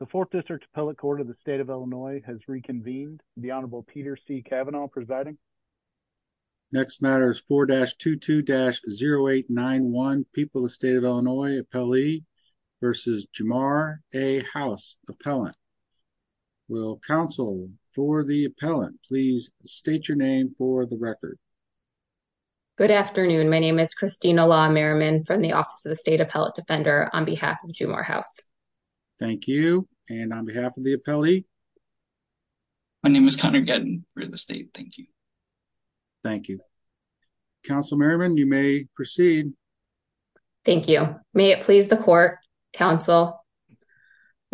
The 4th District Appellate Court of the State of Illinois has reconvened. The Honorable Peter C. Kavanaugh presiding. Next matter is 4-22-0891, People of the State of Illinois, Appellee versus Jumar A. House, Appellant. Will counsel for the appellant please state your name for the record. Good afternoon. My name is Christina Law Merriman from the Office of the State Appellate Defender on behalf of Jumar House. Thank you. And on behalf of the appellee? My name is Connor Gettin for the state. Thank you. Thank you. Counsel Merriman, you may proceed. Thank you. May it please the court, counsel.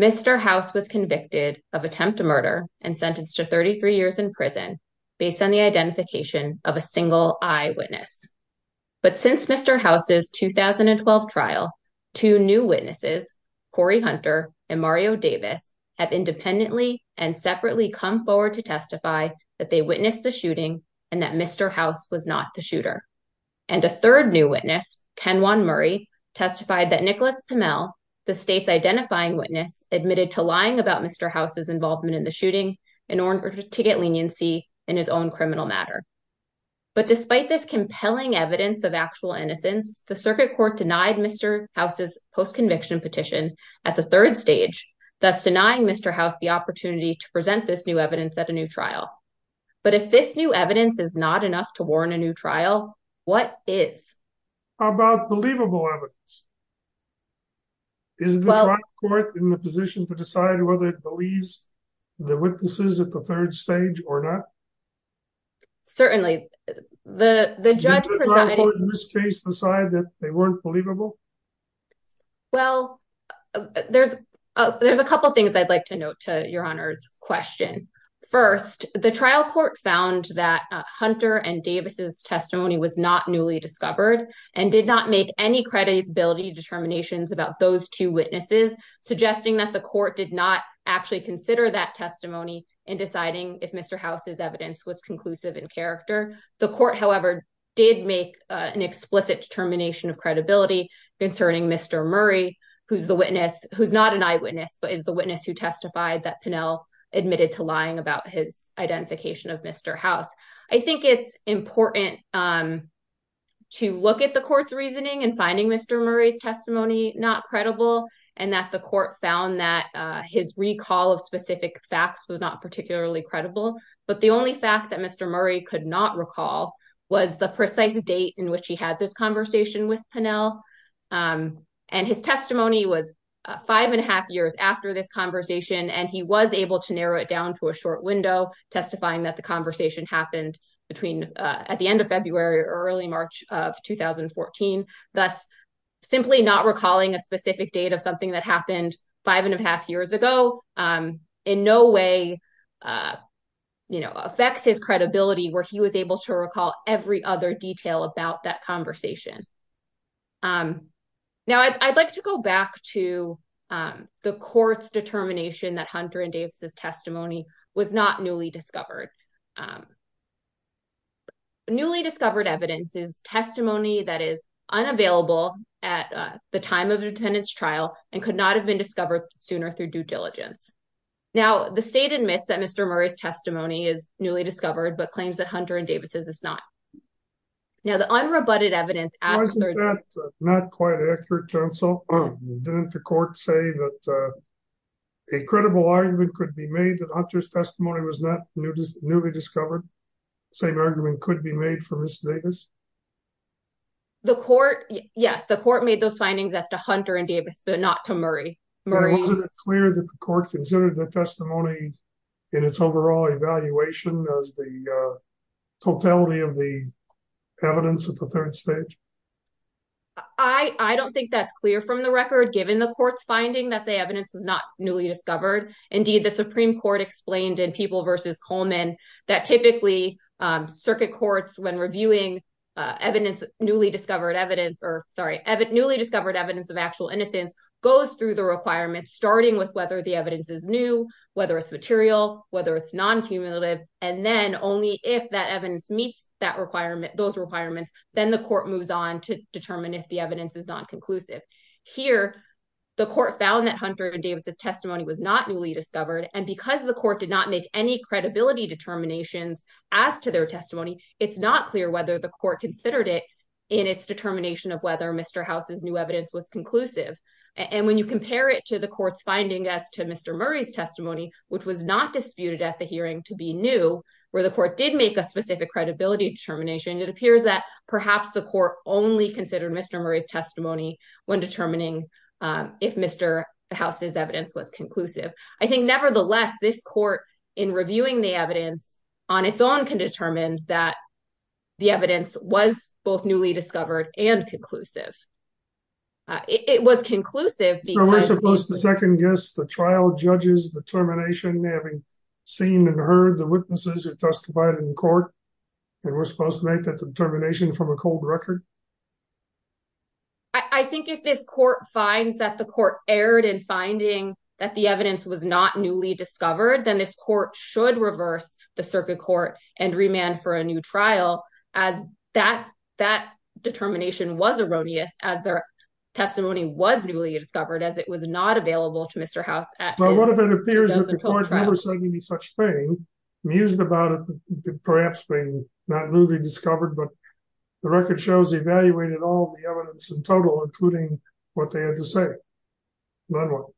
Mr. House was convicted of attempt to murder and sentenced to 33 years in prison based on the identification of a single eyewitness. But since Mr. House's 2012 trial, two new witnesses, Corey Hunter and Mario Davis, have independently and separately come forward to testify that they witnessed the shooting and that Mr. House was not the shooter. And a third new witness, Ken Juan Murray, testified that Nicholas Pimell, the state's identifying witness, admitted to lying about Mr. House's involvement in the shooting in order to get leniency in his own criminal matter. But despite this compelling evidence of actual innocence, the circuit court denied Mr. House's post-conviction petition at the third stage, thus denying Mr. House the opportunity to present this new evidence at a new trial. But if this new evidence is not enough to warn a new trial, what is? How about believable evidence? Is the trial court in the position to decide whether it believes the witnesses at the third stage or not? Certainly. The judge in this case decided that they weren't believable. Well, there's a couple of things I'd like to note to Your Honor's question. First, the trial court found that Hunter and Davis's testimony was not newly discovered and did not make any credibility determinations about those two witnesses, suggesting that the court did not actually consider that testimony in deciding if Mr. House's evidence was conclusive in character. The court, however, did make an explicit determination of credibility concerning Mr. Murray, who's the witness, who's not an eyewitness, but is the witness who testified that Pimell admitted to lying about his identification of Mr. House. I think it's important to look at the court's reasoning and finding Mr. Murray's testimony not credible and that the court found that his recall of specific facts was not particularly credible. But the only fact that Mr. Murray could not recall was the precise date in which he had this conversation with Pimell. And his testimony was five and a half years after this conversation, and he was able to narrow it down to a short window, testifying that the conversation happened between at the end of February or early March of 2014, thus simply not recalling a specific date of something that happened five and a half years ago in no way affects his credibility where he was able to recall every other detail about that conversation. Now, I'd like to go back to the court's determination that Hunter and Davis' testimony was not newly discovered. Newly discovered evidence is testimony that is unavailable at the time of the defendant's trial and could not have been discovered sooner through due diligence. Now, the state admits that Mr. Murray's testimony is newly discovered, but claims that Hunter and Davis' is not. Now, the unrebutted evidence... Was that not quite accurate, counsel? Didn't the court say that a credible argument could be made that Hunter's testimony was not newly discovered? The same argument could be made for Ms. Davis? The court... Yes, the court made those findings as to Hunter and Davis, but not to Murray. But wasn't it clear that the court considered the testimony in its overall evaluation as the totality of the evidence at the third stage? I don't think that's clear from the record, given the court's finding that the evidence was not newly discovered. Indeed, the Supreme Court, when reviewing newly discovered evidence of actual innocence, goes through the requirements, starting with whether the evidence is new, whether it's material, whether it's non-cumulative, and then only if that evidence meets those requirements, then the court moves on to determine if the evidence is non-conclusive. Here, the court found that Hunter and Davis' testimony was not newly discovered, and because the court did not make any credibility determinations as to their testimony, it's not clear whether the court considered it in its determination of whether Mr. House's new evidence was conclusive. And when you compare it to the court's finding as to Mr. Murray's testimony, which was not disputed at the hearing to be new, where the court did make a specific credibility determination, it appears that perhaps the court only considered Mr. Murray's testimony when determining if Mr. House's evidence was conclusive. I think, nevertheless, this court, in reviewing the evidence on its own, can determine that the evidence was both newly discovered and conclusive. It was conclusive because— So we're supposed to second-guess the trial judge's determination, having seen and heard the witnesses who testified in court, and we're supposed to make that determination from a cold record? I think if this court finds that the court erred in finding that the evidence was not newly discovered, then this court should reverse the circuit court and remand for a new trial, as that determination was erroneous, as their testimony was newly discovered, as it was not available to Mr. House at his— But what if it appears that the court never said any such thing, mused about it perhaps being not newly discovered, but the record shows evaluated all the evidence in total, including what they had to say? Manuel?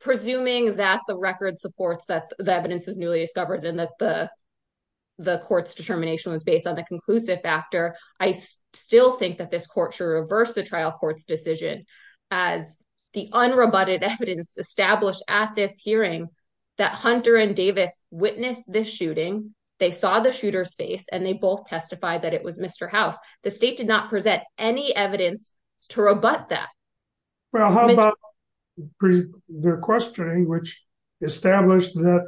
Presuming that the record supports that the evidence is newly discovered and that the court's determination was based on the conclusive factor, I still think that this court should reverse the trial court's decision, as the unrebutted evidence established at this hearing that Hunter and Davis witnessed this shooting, they saw the shooter's face, and they both testified that it was Mr. House. The state did not present any evidence to rebut that. Well, how about their questioning, which established that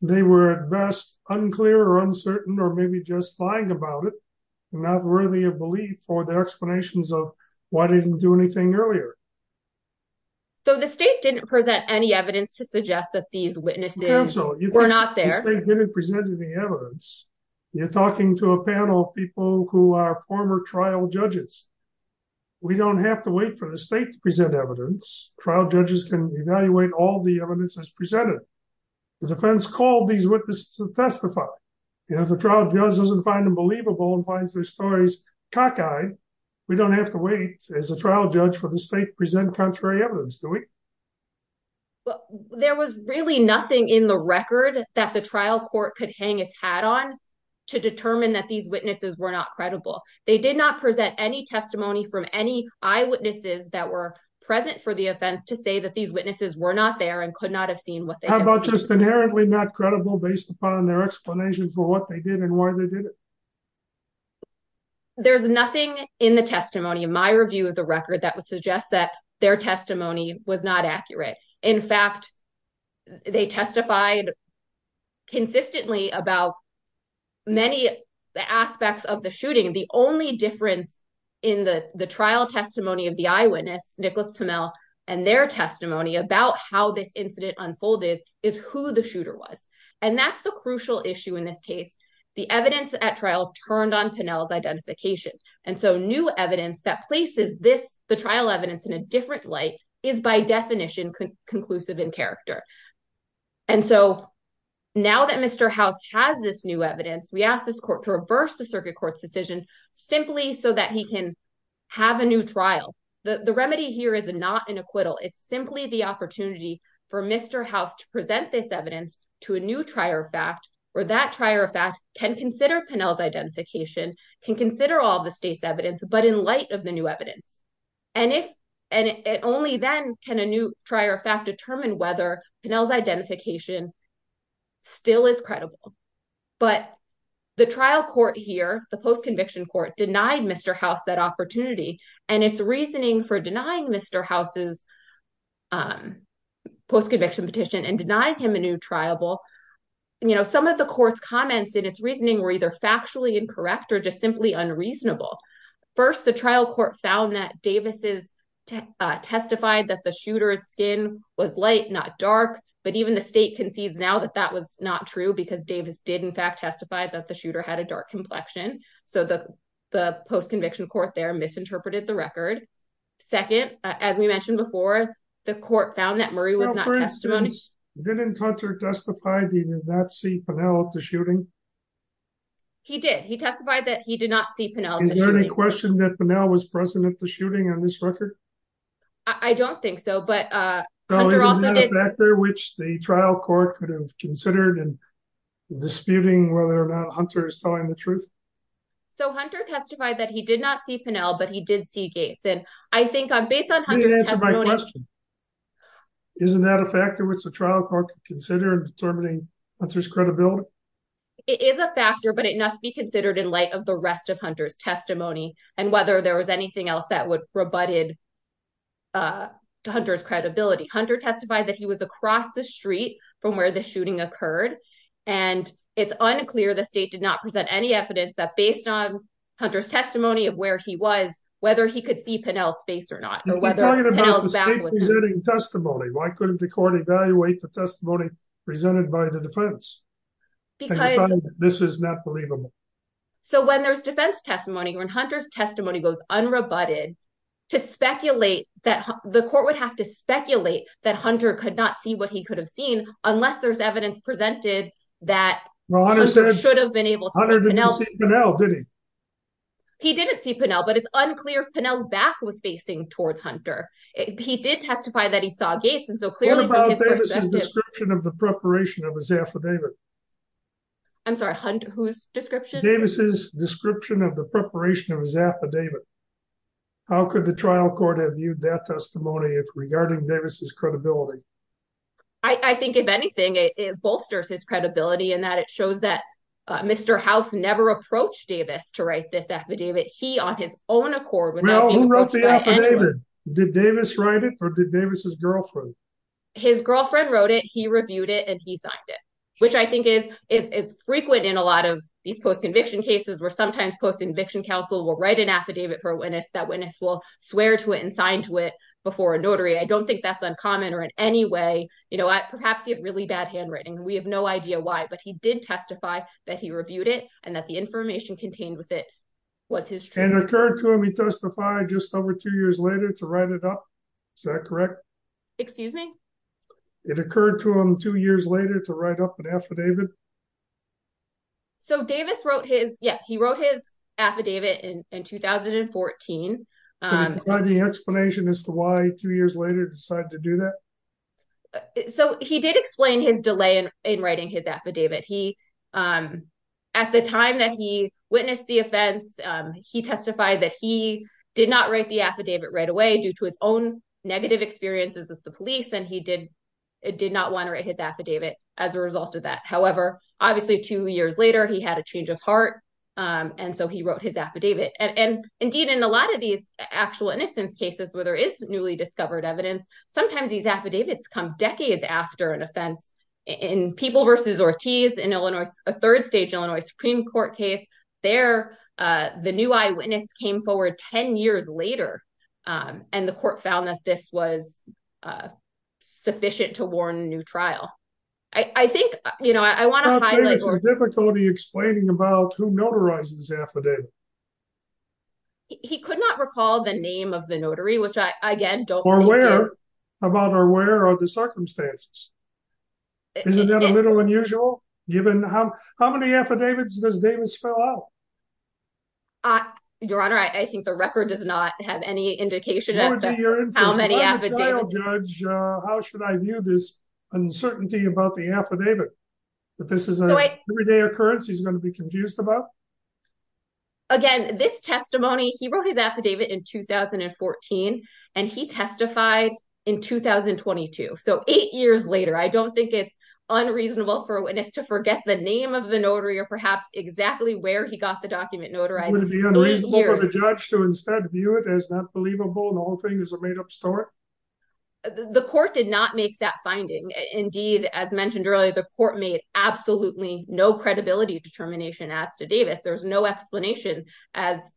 they were at best unclear or uncertain or maybe just lying about it, not worthy of belief for their explanations of why they didn't do anything earlier? So the state didn't present any evidence to suggest that these witnesses were not there. Counsel, you think the state didn't present any evidence? You're talking to a panel of people who are former trial judges. We don't have to wait for the state to present evidence. Trial judges can evaluate all the evidence that's presented. The defense called these witnesses to testify. If a trial judge doesn't find them believable and finds their stories cockeyed, we don't have to wait as a trial judge for the state to present contrary evidence, do we? There was really nothing in the record that the trial court could hang its hat on to determine that these witnesses were not credible. They did not present any testimony from any eyewitnesses that were present for the offense to say that these witnesses were not there and could not have seen what they had seen. How about just inherently not credible based upon their explanation for what they did and why they did it? Well, there's nothing in the testimony of my review of the record that would suggest that their testimony was not accurate. In fact, they testified consistently about many aspects of the shooting. The only difference in the trial testimony of the eyewitness, Nicholas Pimell, and their testimony about how this incident unfolded is who the shooter was. That's the crucial issue in this case. The evidence at trial turned on Pimell's identification. New evidence that places the trial evidence in a different light is, by definition, conclusive in character. Now that Mr. House has this new evidence, we ask this court to reverse the circuit court's decision simply so that he can have a new trial. The remedy here is not an opportunity for Mr. House to present this evidence to a new trier of fact, where that trier of fact can consider Pimell's identification, can consider all the state's evidence, but in light of the new evidence. Only then can a new trier of fact determine whether Pimell's identification still is credible. But the trial court here, the post-conviction court, denied Mr. House that opportunity and its reasoning for denying Mr. House's post-conviction petition and denying him a new triable. Some of the court's comments in its reasoning were either factually incorrect or just simply unreasonable. First, the trial court found that Davis testified that the shooter's skin was light, not dark, but even the state concedes now that that was not true because Davis did, in fact, testify that the shooter had a dark complexion. So the post-conviction court there misinterpreted the record. Second, as we mentioned before, the court found that Murray was not testimony. Didn't Hunter testify that he did not see Pimell at the shooting? He did. He testified that he did not see Pimell. Is there any question that Pimell was present at the shooting on this record? I don't think so, but Hunter also did. Is that a factor which the trial court could have considered in disputing whether or not Hunter is telling the truth? So Hunter testified that he did not see Pimell, but he did see Gates, and I think based on Hunter's testimony... Let me answer my question. Isn't that a factor which the trial court could consider in determining Hunter's credibility? It is a factor, but it must be considered in light of the rest of Hunter's testimony and whether there was anything else that would rebut Hunter's credibility. Hunter testified that he was across the street from where the shooting occurred, and it's unclear the state did not present any evidence that, based on Hunter's testimony of where he was, whether he could see Pimell's face or not. You're talking about the state presenting testimony. Why couldn't the court evaluate the testimony presented by the defense? Because this is not believable. So when there's defense testimony, when Hunter's testimony goes unrebutted, to speculate that the court would have to speculate that Hunter could not see what he could have seen unless there's evidence presented that Hunter should have been able to see Pimell. He didn't see Pimell, but it's unclear if Pimell's back was facing towards Hunter. He did testify that he saw Gates, and so clearly... What about Davis' description of the preparation of his affidavit? I'm sorry, Hunter's description? Davis' description of the testimony regarding Davis' credibility? I think, if anything, it bolsters his credibility in that it shows that Mr. House never approached Davis to write this affidavit. He, on his own accord... Well, who wrote the affidavit? Did Davis write it, or did Davis' girlfriend? His girlfriend wrote it, he reviewed it, and he signed it, which I think is frequent in a lot of these post-conviction cases, where sometimes post-conviction counsel will write an affidavit for a witness, that witness will before a notary. I don't think that's uncommon or in any way, you know, perhaps he had really bad handwriting. We have no idea why, but he did testify that he reviewed it and that the information contained with it was his... And it occurred to him he testified just over two years later to write it up? Is that correct? Excuse me? It occurred to him two years later to write up an affidavit? So Davis wrote his... Yes, he wrote his affidavit in 2014. Can you provide any explanation as to why two years later decided to do that? So he did explain his delay in writing his affidavit. He, at the time that he witnessed the offense, he testified that he did not write the affidavit right away due to his own negative experiences with the police, and he did not want to write his affidavit as a result of that. However, obviously, two years later, he had a change of heart, and so he wrote his affidavit. And indeed, in a lot of these actual innocence cases where there is newly discovered evidence, sometimes these affidavits come decades after an offense. In People v. Ortiz, in a third stage Illinois Supreme Court case, there, the new eyewitness came forward 10 years later, and the court found that this was sufficient to warn a new trial. I think, you know, I want to highlight... How about Davis' difficulty explaining about who notarized this affidavit? He could not recall the name of the notary, which I, again, don't think... Or where? About, or where are the circumstances? Isn't that a little unusual, given how many affidavits does Davis spell out? Your Honor, I think the record does not have any indication as to how many affidavits... How should I view this uncertainty about the affidavit, that this is an everyday occurrence he's going to be confused about? Again, this testimony, he wrote his affidavit in 2014, and he testified in 2022, so eight years later. I don't think it's unreasonable for a witness to forget the name of the notary, or perhaps exactly where he got the document notarized. Would it be unreasonable for the judge to instead view it as not believable, and the whole thing is a made-up story? The court did not make that finding. Indeed, as mentioned earlier, the court made absolutely no credibility determination as to Davis. There's no explanation as...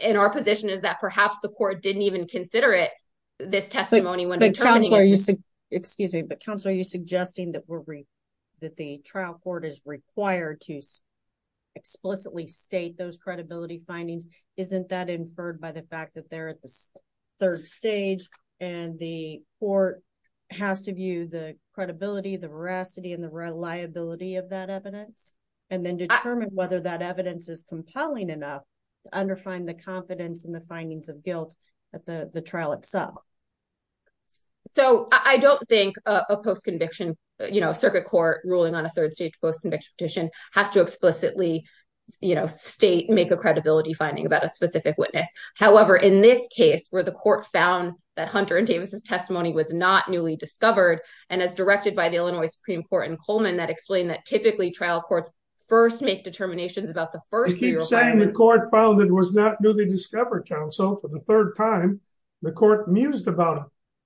And our position is that perhaps the court didn't even consider this testimony when determining it. Excuse me, but counsel, are you suggesting that the trial court is required to explicitly state those credibility findings? Isn't that inferred by the fact that they're at the third stage, and the court has to view the credibility, the veracity, and the reliability of that evidence, and then determine whether that trial itself? I don't think a post-conviction circuit court ruling on a third-stage post-conviction petition has to explicitly state, make a credibility finding about a specific witness. However, in this case, where the court found that Hunter and Davis's testimony was not newly discovered, and as directed by the Illinois Supreme Court in Coleman, that explained that typically trial courts first make determinations about the first... You keep saying the court found it was not newly discovered, counsel. For the third time, the court mused about it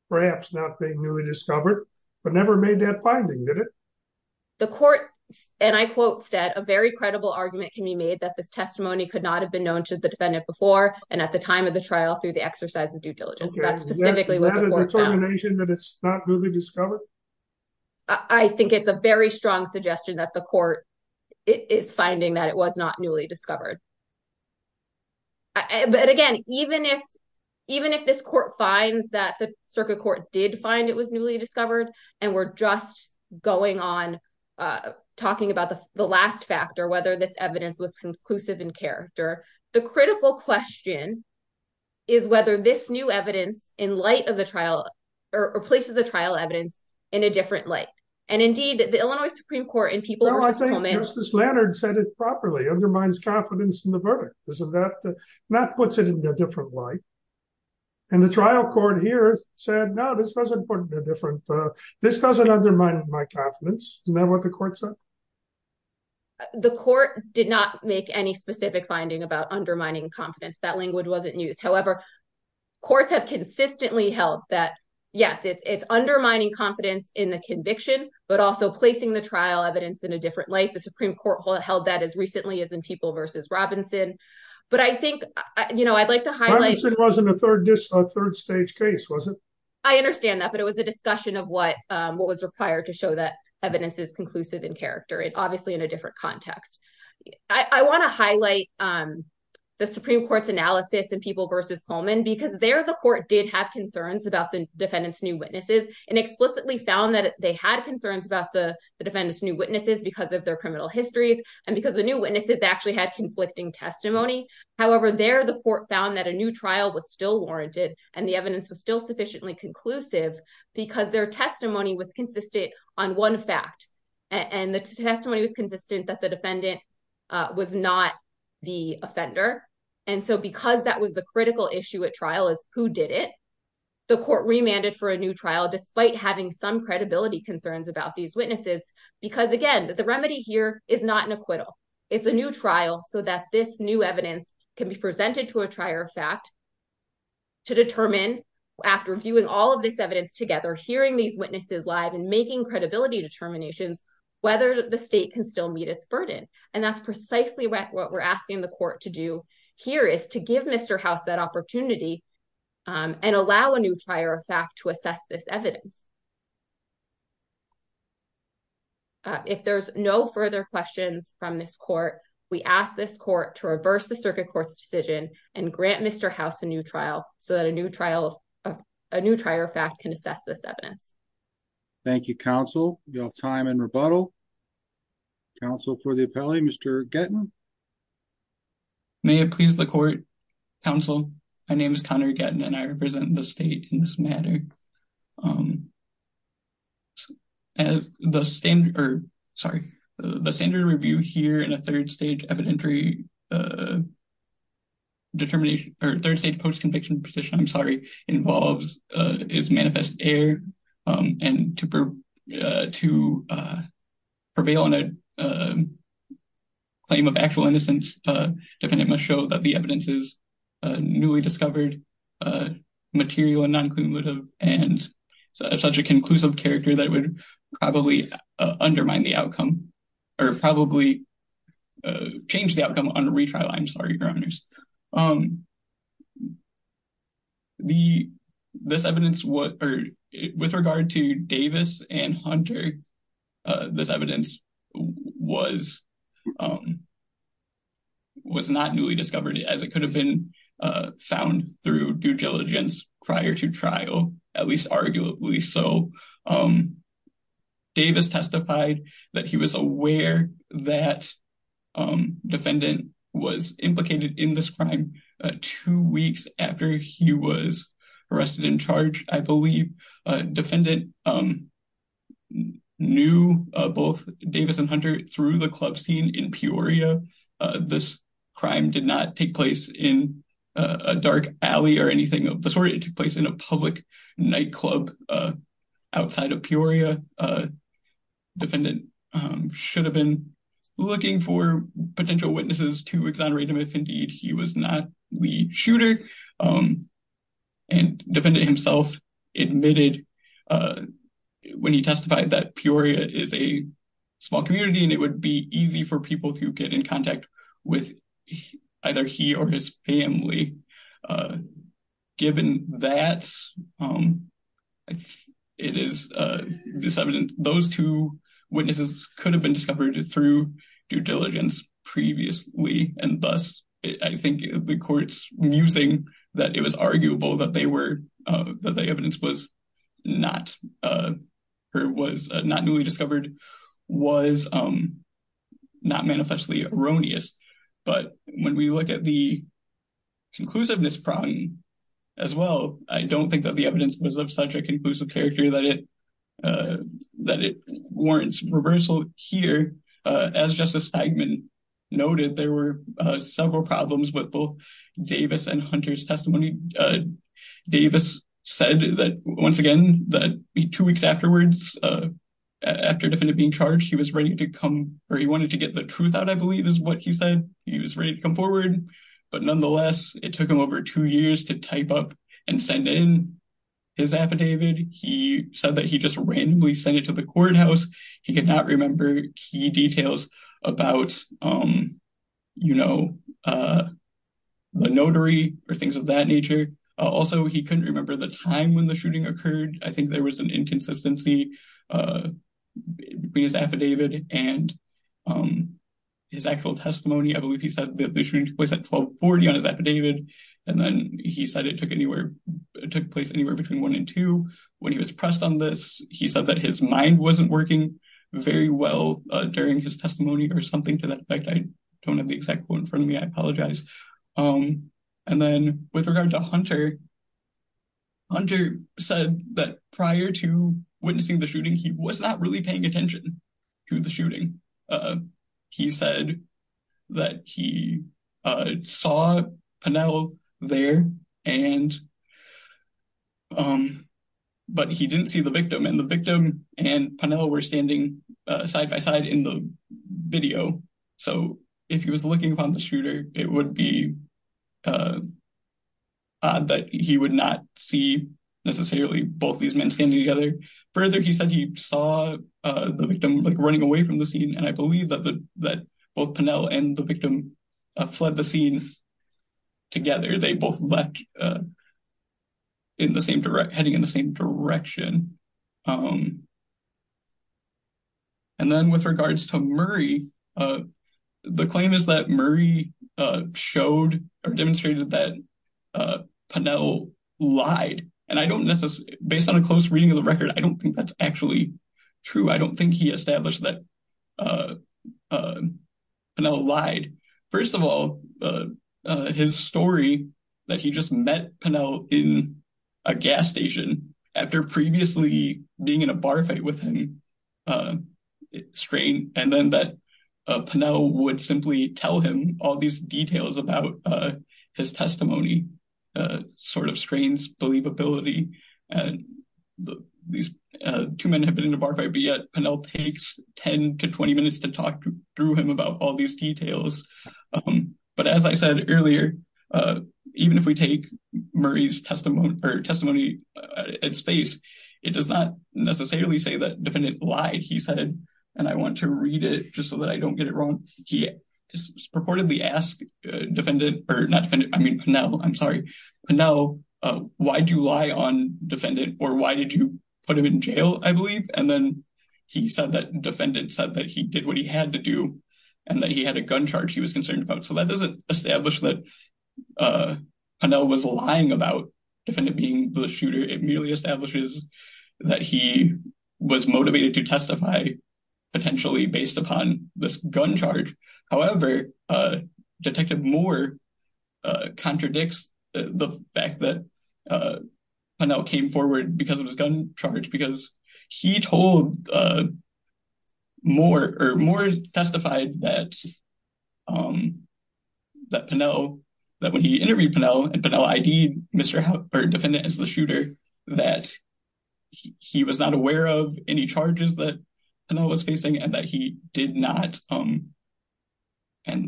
perhaps not being newly discovered, but never made that finding, did it? The court, and I quote, said, a very credible argument can be made that this testimony could not have been known to the defendant before, and at the time of the trial through the exercise of due diligence. That's specifically what the court found. Is that a determination that it's not newly discovered? I think it's a very strong suggestion that the court is finding that it was not newly discovered. But again, even if this court finds that the circuit court did find it was newly discovered, and we're just going on talking about the last factor, whether this evidence was conclusive in character, the critical question is whether this new evidence in light of the trial, or places the trial evidence in a different light. And indeed, the Illinois Supreme Court in people... No, I think Justice Leonard said it properly, undermines confidence in the verdict. And that puts it in a different light. And the trial court here said, no, this doesn't undermine my confidence. Isn't that what the court said? The court did not make any specific finding about undermining confidence. That language wasn't used. However, courts have consistently held that, yes, it's undermining confidence in the conviction, but also placing the trial evidence in a different light. The Supreme Court held that as recently as in People v. Robinson. But I think I'd like to highlight... Robinson wasn't a third stage case, was it? I understand that, but it was a discussion of what was required to show that evidence is conclusive in character, and obviously in a different context. I want to highlight the Supreme Court's analysis in People v. Coleman, because there the court did have concerns about the defendant's new witnesses, and explicitly found that they had concerns about the defendant's witnesses because of their criminal history, and because the new witnesses actually had conflicting testimony. However, there the court found that a new trial was still warranted, and the evidence was still sufficiently conclusive, because their testimony was consistent on one fact. And the testimony was consistent that the defendant was not the offender. And so because that was the critical issue at trial is who did it, the court remanded for a new trial, despite having some credibility concerns about these witnesses, because again, the remedy here is not an acquittal. It's a new trial so that this new evidence can be presented to a trier of fact to determine, after viewing all of this evidence together, hearing these witnesses live and making credibility determinations, whether the state can still meet its burden. And that's precisely what we're asking the court to do here, is to give Mr. House that opportunity and allow a new trier of fact to assess this evidence. If there's no further questions from this court, we ask this court to reverse the circuit court's decision and grant Mr. House a new trial so that a new trial, a new trier of fact can assess this evidence. Thank you, counsel. We have time in rebuttal. Counsel for the appellee, Mr. Gettman. May it please the court, counsel. My name is Connor Gettman and I represent the state in this matter. As the standard, or sorry, the standard review here in a third stage evidentiary determination, or third stage post-conviction petition, I'm sorry, involves, is manifest error. And to prevail on a claim of actual innocence, defendant must show that the evidence is newly discovered, material and non-cumulative, and such a conclusive character that would probably undermine the outcome, or probably change the outcome on a retrial. I'm sorry, your honors. This evidence, with regard to Davis and Hunter, this evidence was not newly discovered as it could have been found through due diligence prior to trial, at least arguably so. Davis testified that he was aware that defendant was implicated in this crime two weeks after he was arrested and charged, I believe. Defendant knew both Davis and Hunter through the club scene in Peoria. This crime did not take place in a dark alley or anything of the sort. It took place in a public nightclub outside of Peoria. Defendant should have been looking for potential witnesses to exonerate him if indeed he was not the shooter. And defendant himself admitted when he testified that Peoria is a small community and it would be easy for people to get in contact with either he or his family. Given that, it is this evidence, those two witnesses could have been discovered through due diligence previously, and thus I think the court's musing that it was arguable that the evidence was not newly discovered was not manifestly erroneous. But when we look at the conclusiveness prong as well, I don't think that the evidence was of such a conclusive character that it warrants reversal here. As Justice Steigman noted, there were several problems with both Davis and Hunter's testimony. Davis said that, once again, that two weeks afterwards after defendant being charged, he was ready to come or he wanted to get the truth out, he said. He was ready to come forward. But nonetheless, it took him over two years to type up and send in his affidavit. He said that he just randomly sent it to the courthouse. He could not remember key details about, you know, the notary or things of that nature. Also, he couldn't remember the time when the shooting occurred. I think there was an inconsistency between his affidavit and his actual testimony. I believe he said that the shooting was at 1240 on his affidavit, and then he said it took place anywhere between 1 and 2. When he was pressed on this, he said that his mind wasn't working very well during his testimony or something to that effect. I don't have the exact quote in front of me. I apologize. And then with regard to Hunter, Hunter said that prior to witnessing the shooting, he was not really paying attention to the shooting. He said that he saw Pennell there, but he didn't see the victim. And the victim and Pennell were standing side by side in the video. So if he was looking upon the shooter, it would be odd that he would not see necessarily both these men standing together. Further, he said he saw the victim running away from the scene, and I believe that both Pennell and the victim fled the scene together. They both left heading in the same direction. And then with showed or demonstrated that Pennell lied, and based on a close reading of the record, I don't think that's actually true. I don't think he established that Pennell lied. First of all, his story that he just met Pennell in a gas station after previously being in a bar fight with him, and then that Pennell would simply tell him all these details about his testimony sort of strains believability. These two men have been in a bar fight, but yet Pennell takes 10 to 20 minutes to talk through him about all these details. But as I said earlier, even if we take Murray's testimony, or testimony at face, it does not necessarily say that defendant lied. He said, and I want to read it just so that I don't get it wrong. He purportedly asked Pennell, why do you lie on defendant or why did you put him in jail, I believe. And then he said that defendant said that he did what he had to do and that he had a gun charge he was concerned about. So that doesn't establish that Pennell was lying about defendant being the shooter. It merely establishes that he was motivated to testify potentially based upon this gun charge. However, Detective Moore contradicts the fact that Pennell came forward because of his gun charge because he told Moore, or Moore testified that Pennell, that when he interviewed Pennell, and Pennell ID'd Mr. Hubbard, defendant as the shooter, that he was not aware of any charges that Pennell was facing and that he did not, and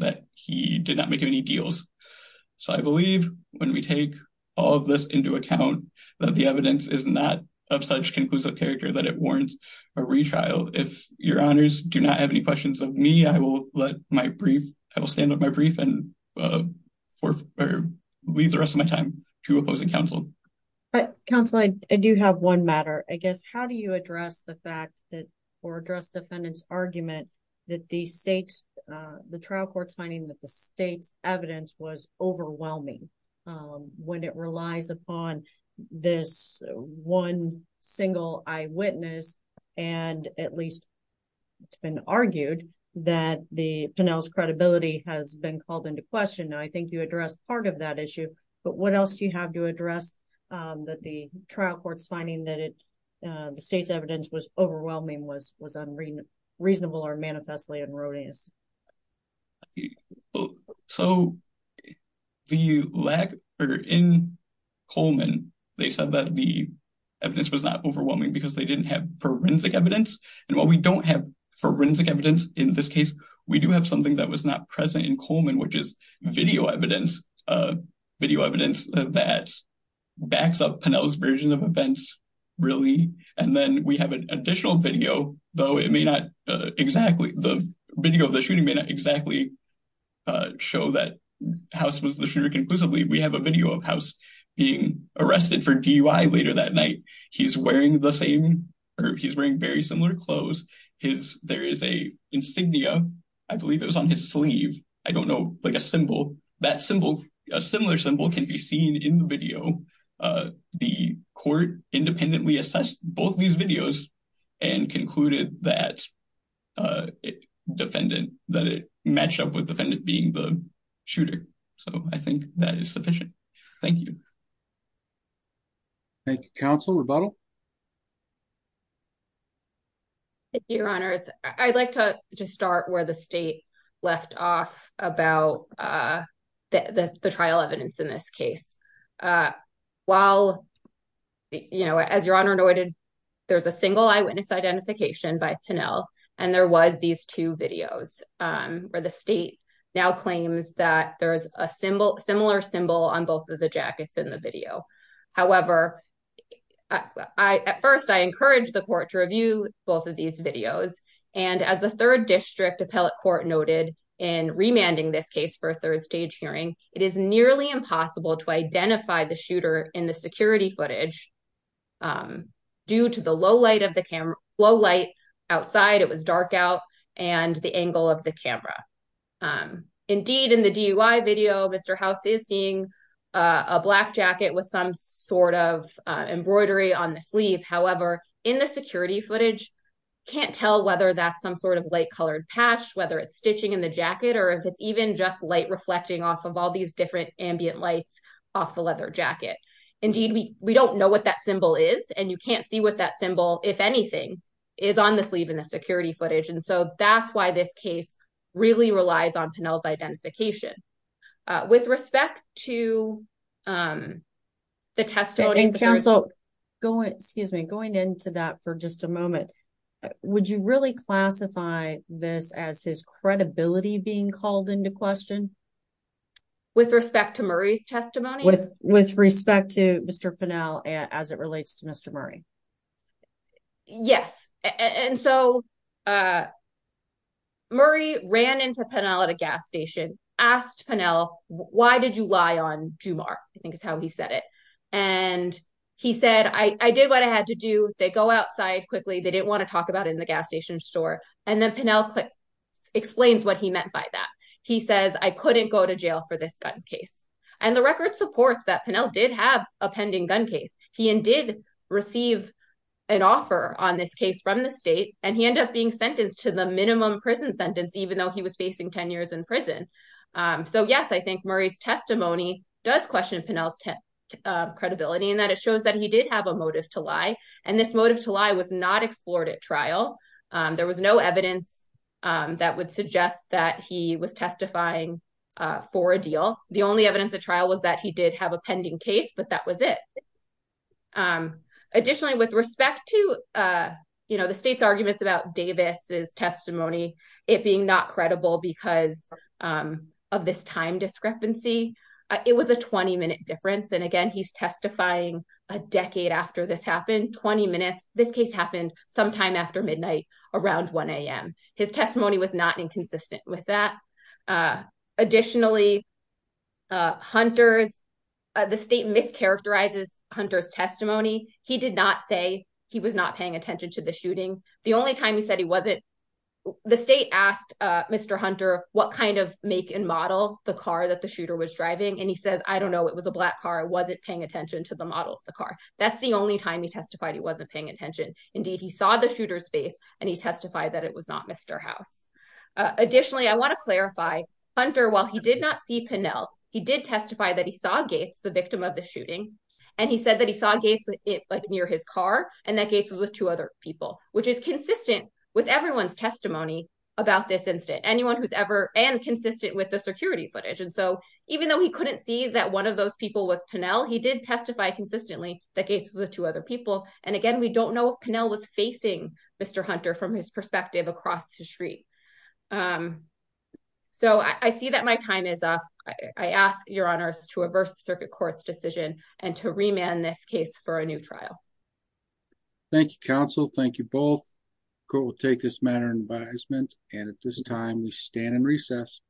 that he did not make any deals. So I believe when we take all of this into account that the evidence is not of such conclusive character that it warrants a retrial. If your honors do not have any questions of me, I will let my brief, I will stand on my brief and leave the rest of my time to opposing counsel. But counsel, I do have one matter. I guess, how do you address the fact that, or address defendant's argument that the trial court's finding that the state's evidence was overwhelming when it relies upon this one single eyewitness, and at least it's been argued that Pennell's credibility has been called into question. I think you addressed part of that issue, but what else do you have to address that the trial court's finding that the state's evidence was overwhelming was unreasonable or manifestly erroneous? So the lack, or in Coleman, they said that the evidence was not overwhelming because they didn't have forensic evidence. And while we don't have forensic evidence in this case, we do have something that was not present in Coleman, which is video evidence, video evidence that backs up version of events, really. And then we have an additional video, though it may not exactly, the video of the shooting may not exactly show that House was the shooter conclusively. We have a video of House being arrested for DUI later that night. He's wearing the same, he's wearing very similar clothes. There is a insignia, I believe it was on his sleeve. I don't know, like a symbol, that symbol, a similar symbol can be seen in the video. The court independently assessed both these videos and concluded that it matched up with the defendant being the shooter. So I think that is sufficient. Thank you. Thank you. Counsel, rebuttal? Thank you, Your Honor. I'd like to just start where the state left off about the trial evidence in this case. While, you know, as Your Honor noted, there's a single eyewitness identification by Pinnell, and there was these two videos, where the state now claims that there's a similar symbol on both of the jackets in the video. However, I, at first, I encouraged the court to review both of these videos. And as the third district appellate court noted in remanding this case for a third stage hearing, it is nearly impossible to identify the shooter in the security footage due to the low light of the camera, low light outside, it was dark out, and the angle of the camera. Indeed, in the DUI video, Mr. House is seeing a black jacket with some sort of embroidery on the sleeve. However, in the security footage, can't tell whether that's some sort of light colored patch, whether it's stitching in the jacket, or if it's even just light reflecting off of all these different ambient lights off the leather jacket. Indeed, we don't know what that symbol is. And you can't see what that symbol, if anything, is on the sleeve in the security footage. And so that's why this case really relies on Pinnell's identification. With respect to the testimony- And counsel, excuse me, going into that for just a moment, would you really classify this as his credibility being called into question? With respect to Murray's testimony? With respect to Mr. Pinnell, as it relates to Mr. Murray. Yes. And so, Murray ran into Pinnell at a gas station, asked Pinnell, why did you lie on Jumar? I think is how he said it. And he said, I did what I had to do. They go outside quickly. They didn't want to talk about it in the gas station store. And then Pinnell explains what he meant by that. He says, I couldn't go to jail for this gun case. And the record supports that Pinnell did have a pending gun case. He indeed received an offer on this case from the state. And he ended up being sentenced to the minimum prison sentence, even though he was facing 10 years in prison. So yes, I think Murray's testimony does question Pinnell's credibility in that it shows that he did have a motive to lie. And this motive to lie was not explored at trial. There was no evidence that would suggest that he was testifying for a deal. The only evidence at trial was that he did have a pending case, but that was it. Additionally, with respect to the state's arguments about Davis's testimony, it being not credible because of this time discrepancy, it was a 20 minute difference. And again, he's testifying a decade after this happened, 20 minutes. This case happened sometime after midnight, around 1 a.m. His testimony was not inconsistent with that. Additionally, the state mischaracterizes Hunter's testimony. He did not say he was not paying attention to the shooting. The only time he said he wasn't, the state asked Mr. Hunter what kind of make and model the car that the shooter was driving. And he says, I don't know, it was a black car, I wasn't paying attention to the model of the car. That's the only time he testified he wasn't paying attention. Indeed, he saw the shooter's face and he testified that it was not Mr. House. Additionally, I want to clarify, Hunter, while he did not see Pennell, he did testify that he saw Gates, the victim of the shooting. And he said that he saw Gates near his car and that Gates was with two other people, which is consistent with everyone's testimony about this incident, anyone who's ever, and consistent with the security footage. And so even though he couldn't see that one of those people was Pennell, he did testify consistently that Gates was with two other people. And again, we don't know if Pennell was facing Mr. Hunter from his perspective across the street. So I see that my time is up. I ask your honors to reverse the circuit court's decision and to remand this case for a new trial. Thank you, counsel. Thank you both. Court will take this matter in advisement. And at this time we stand in recess.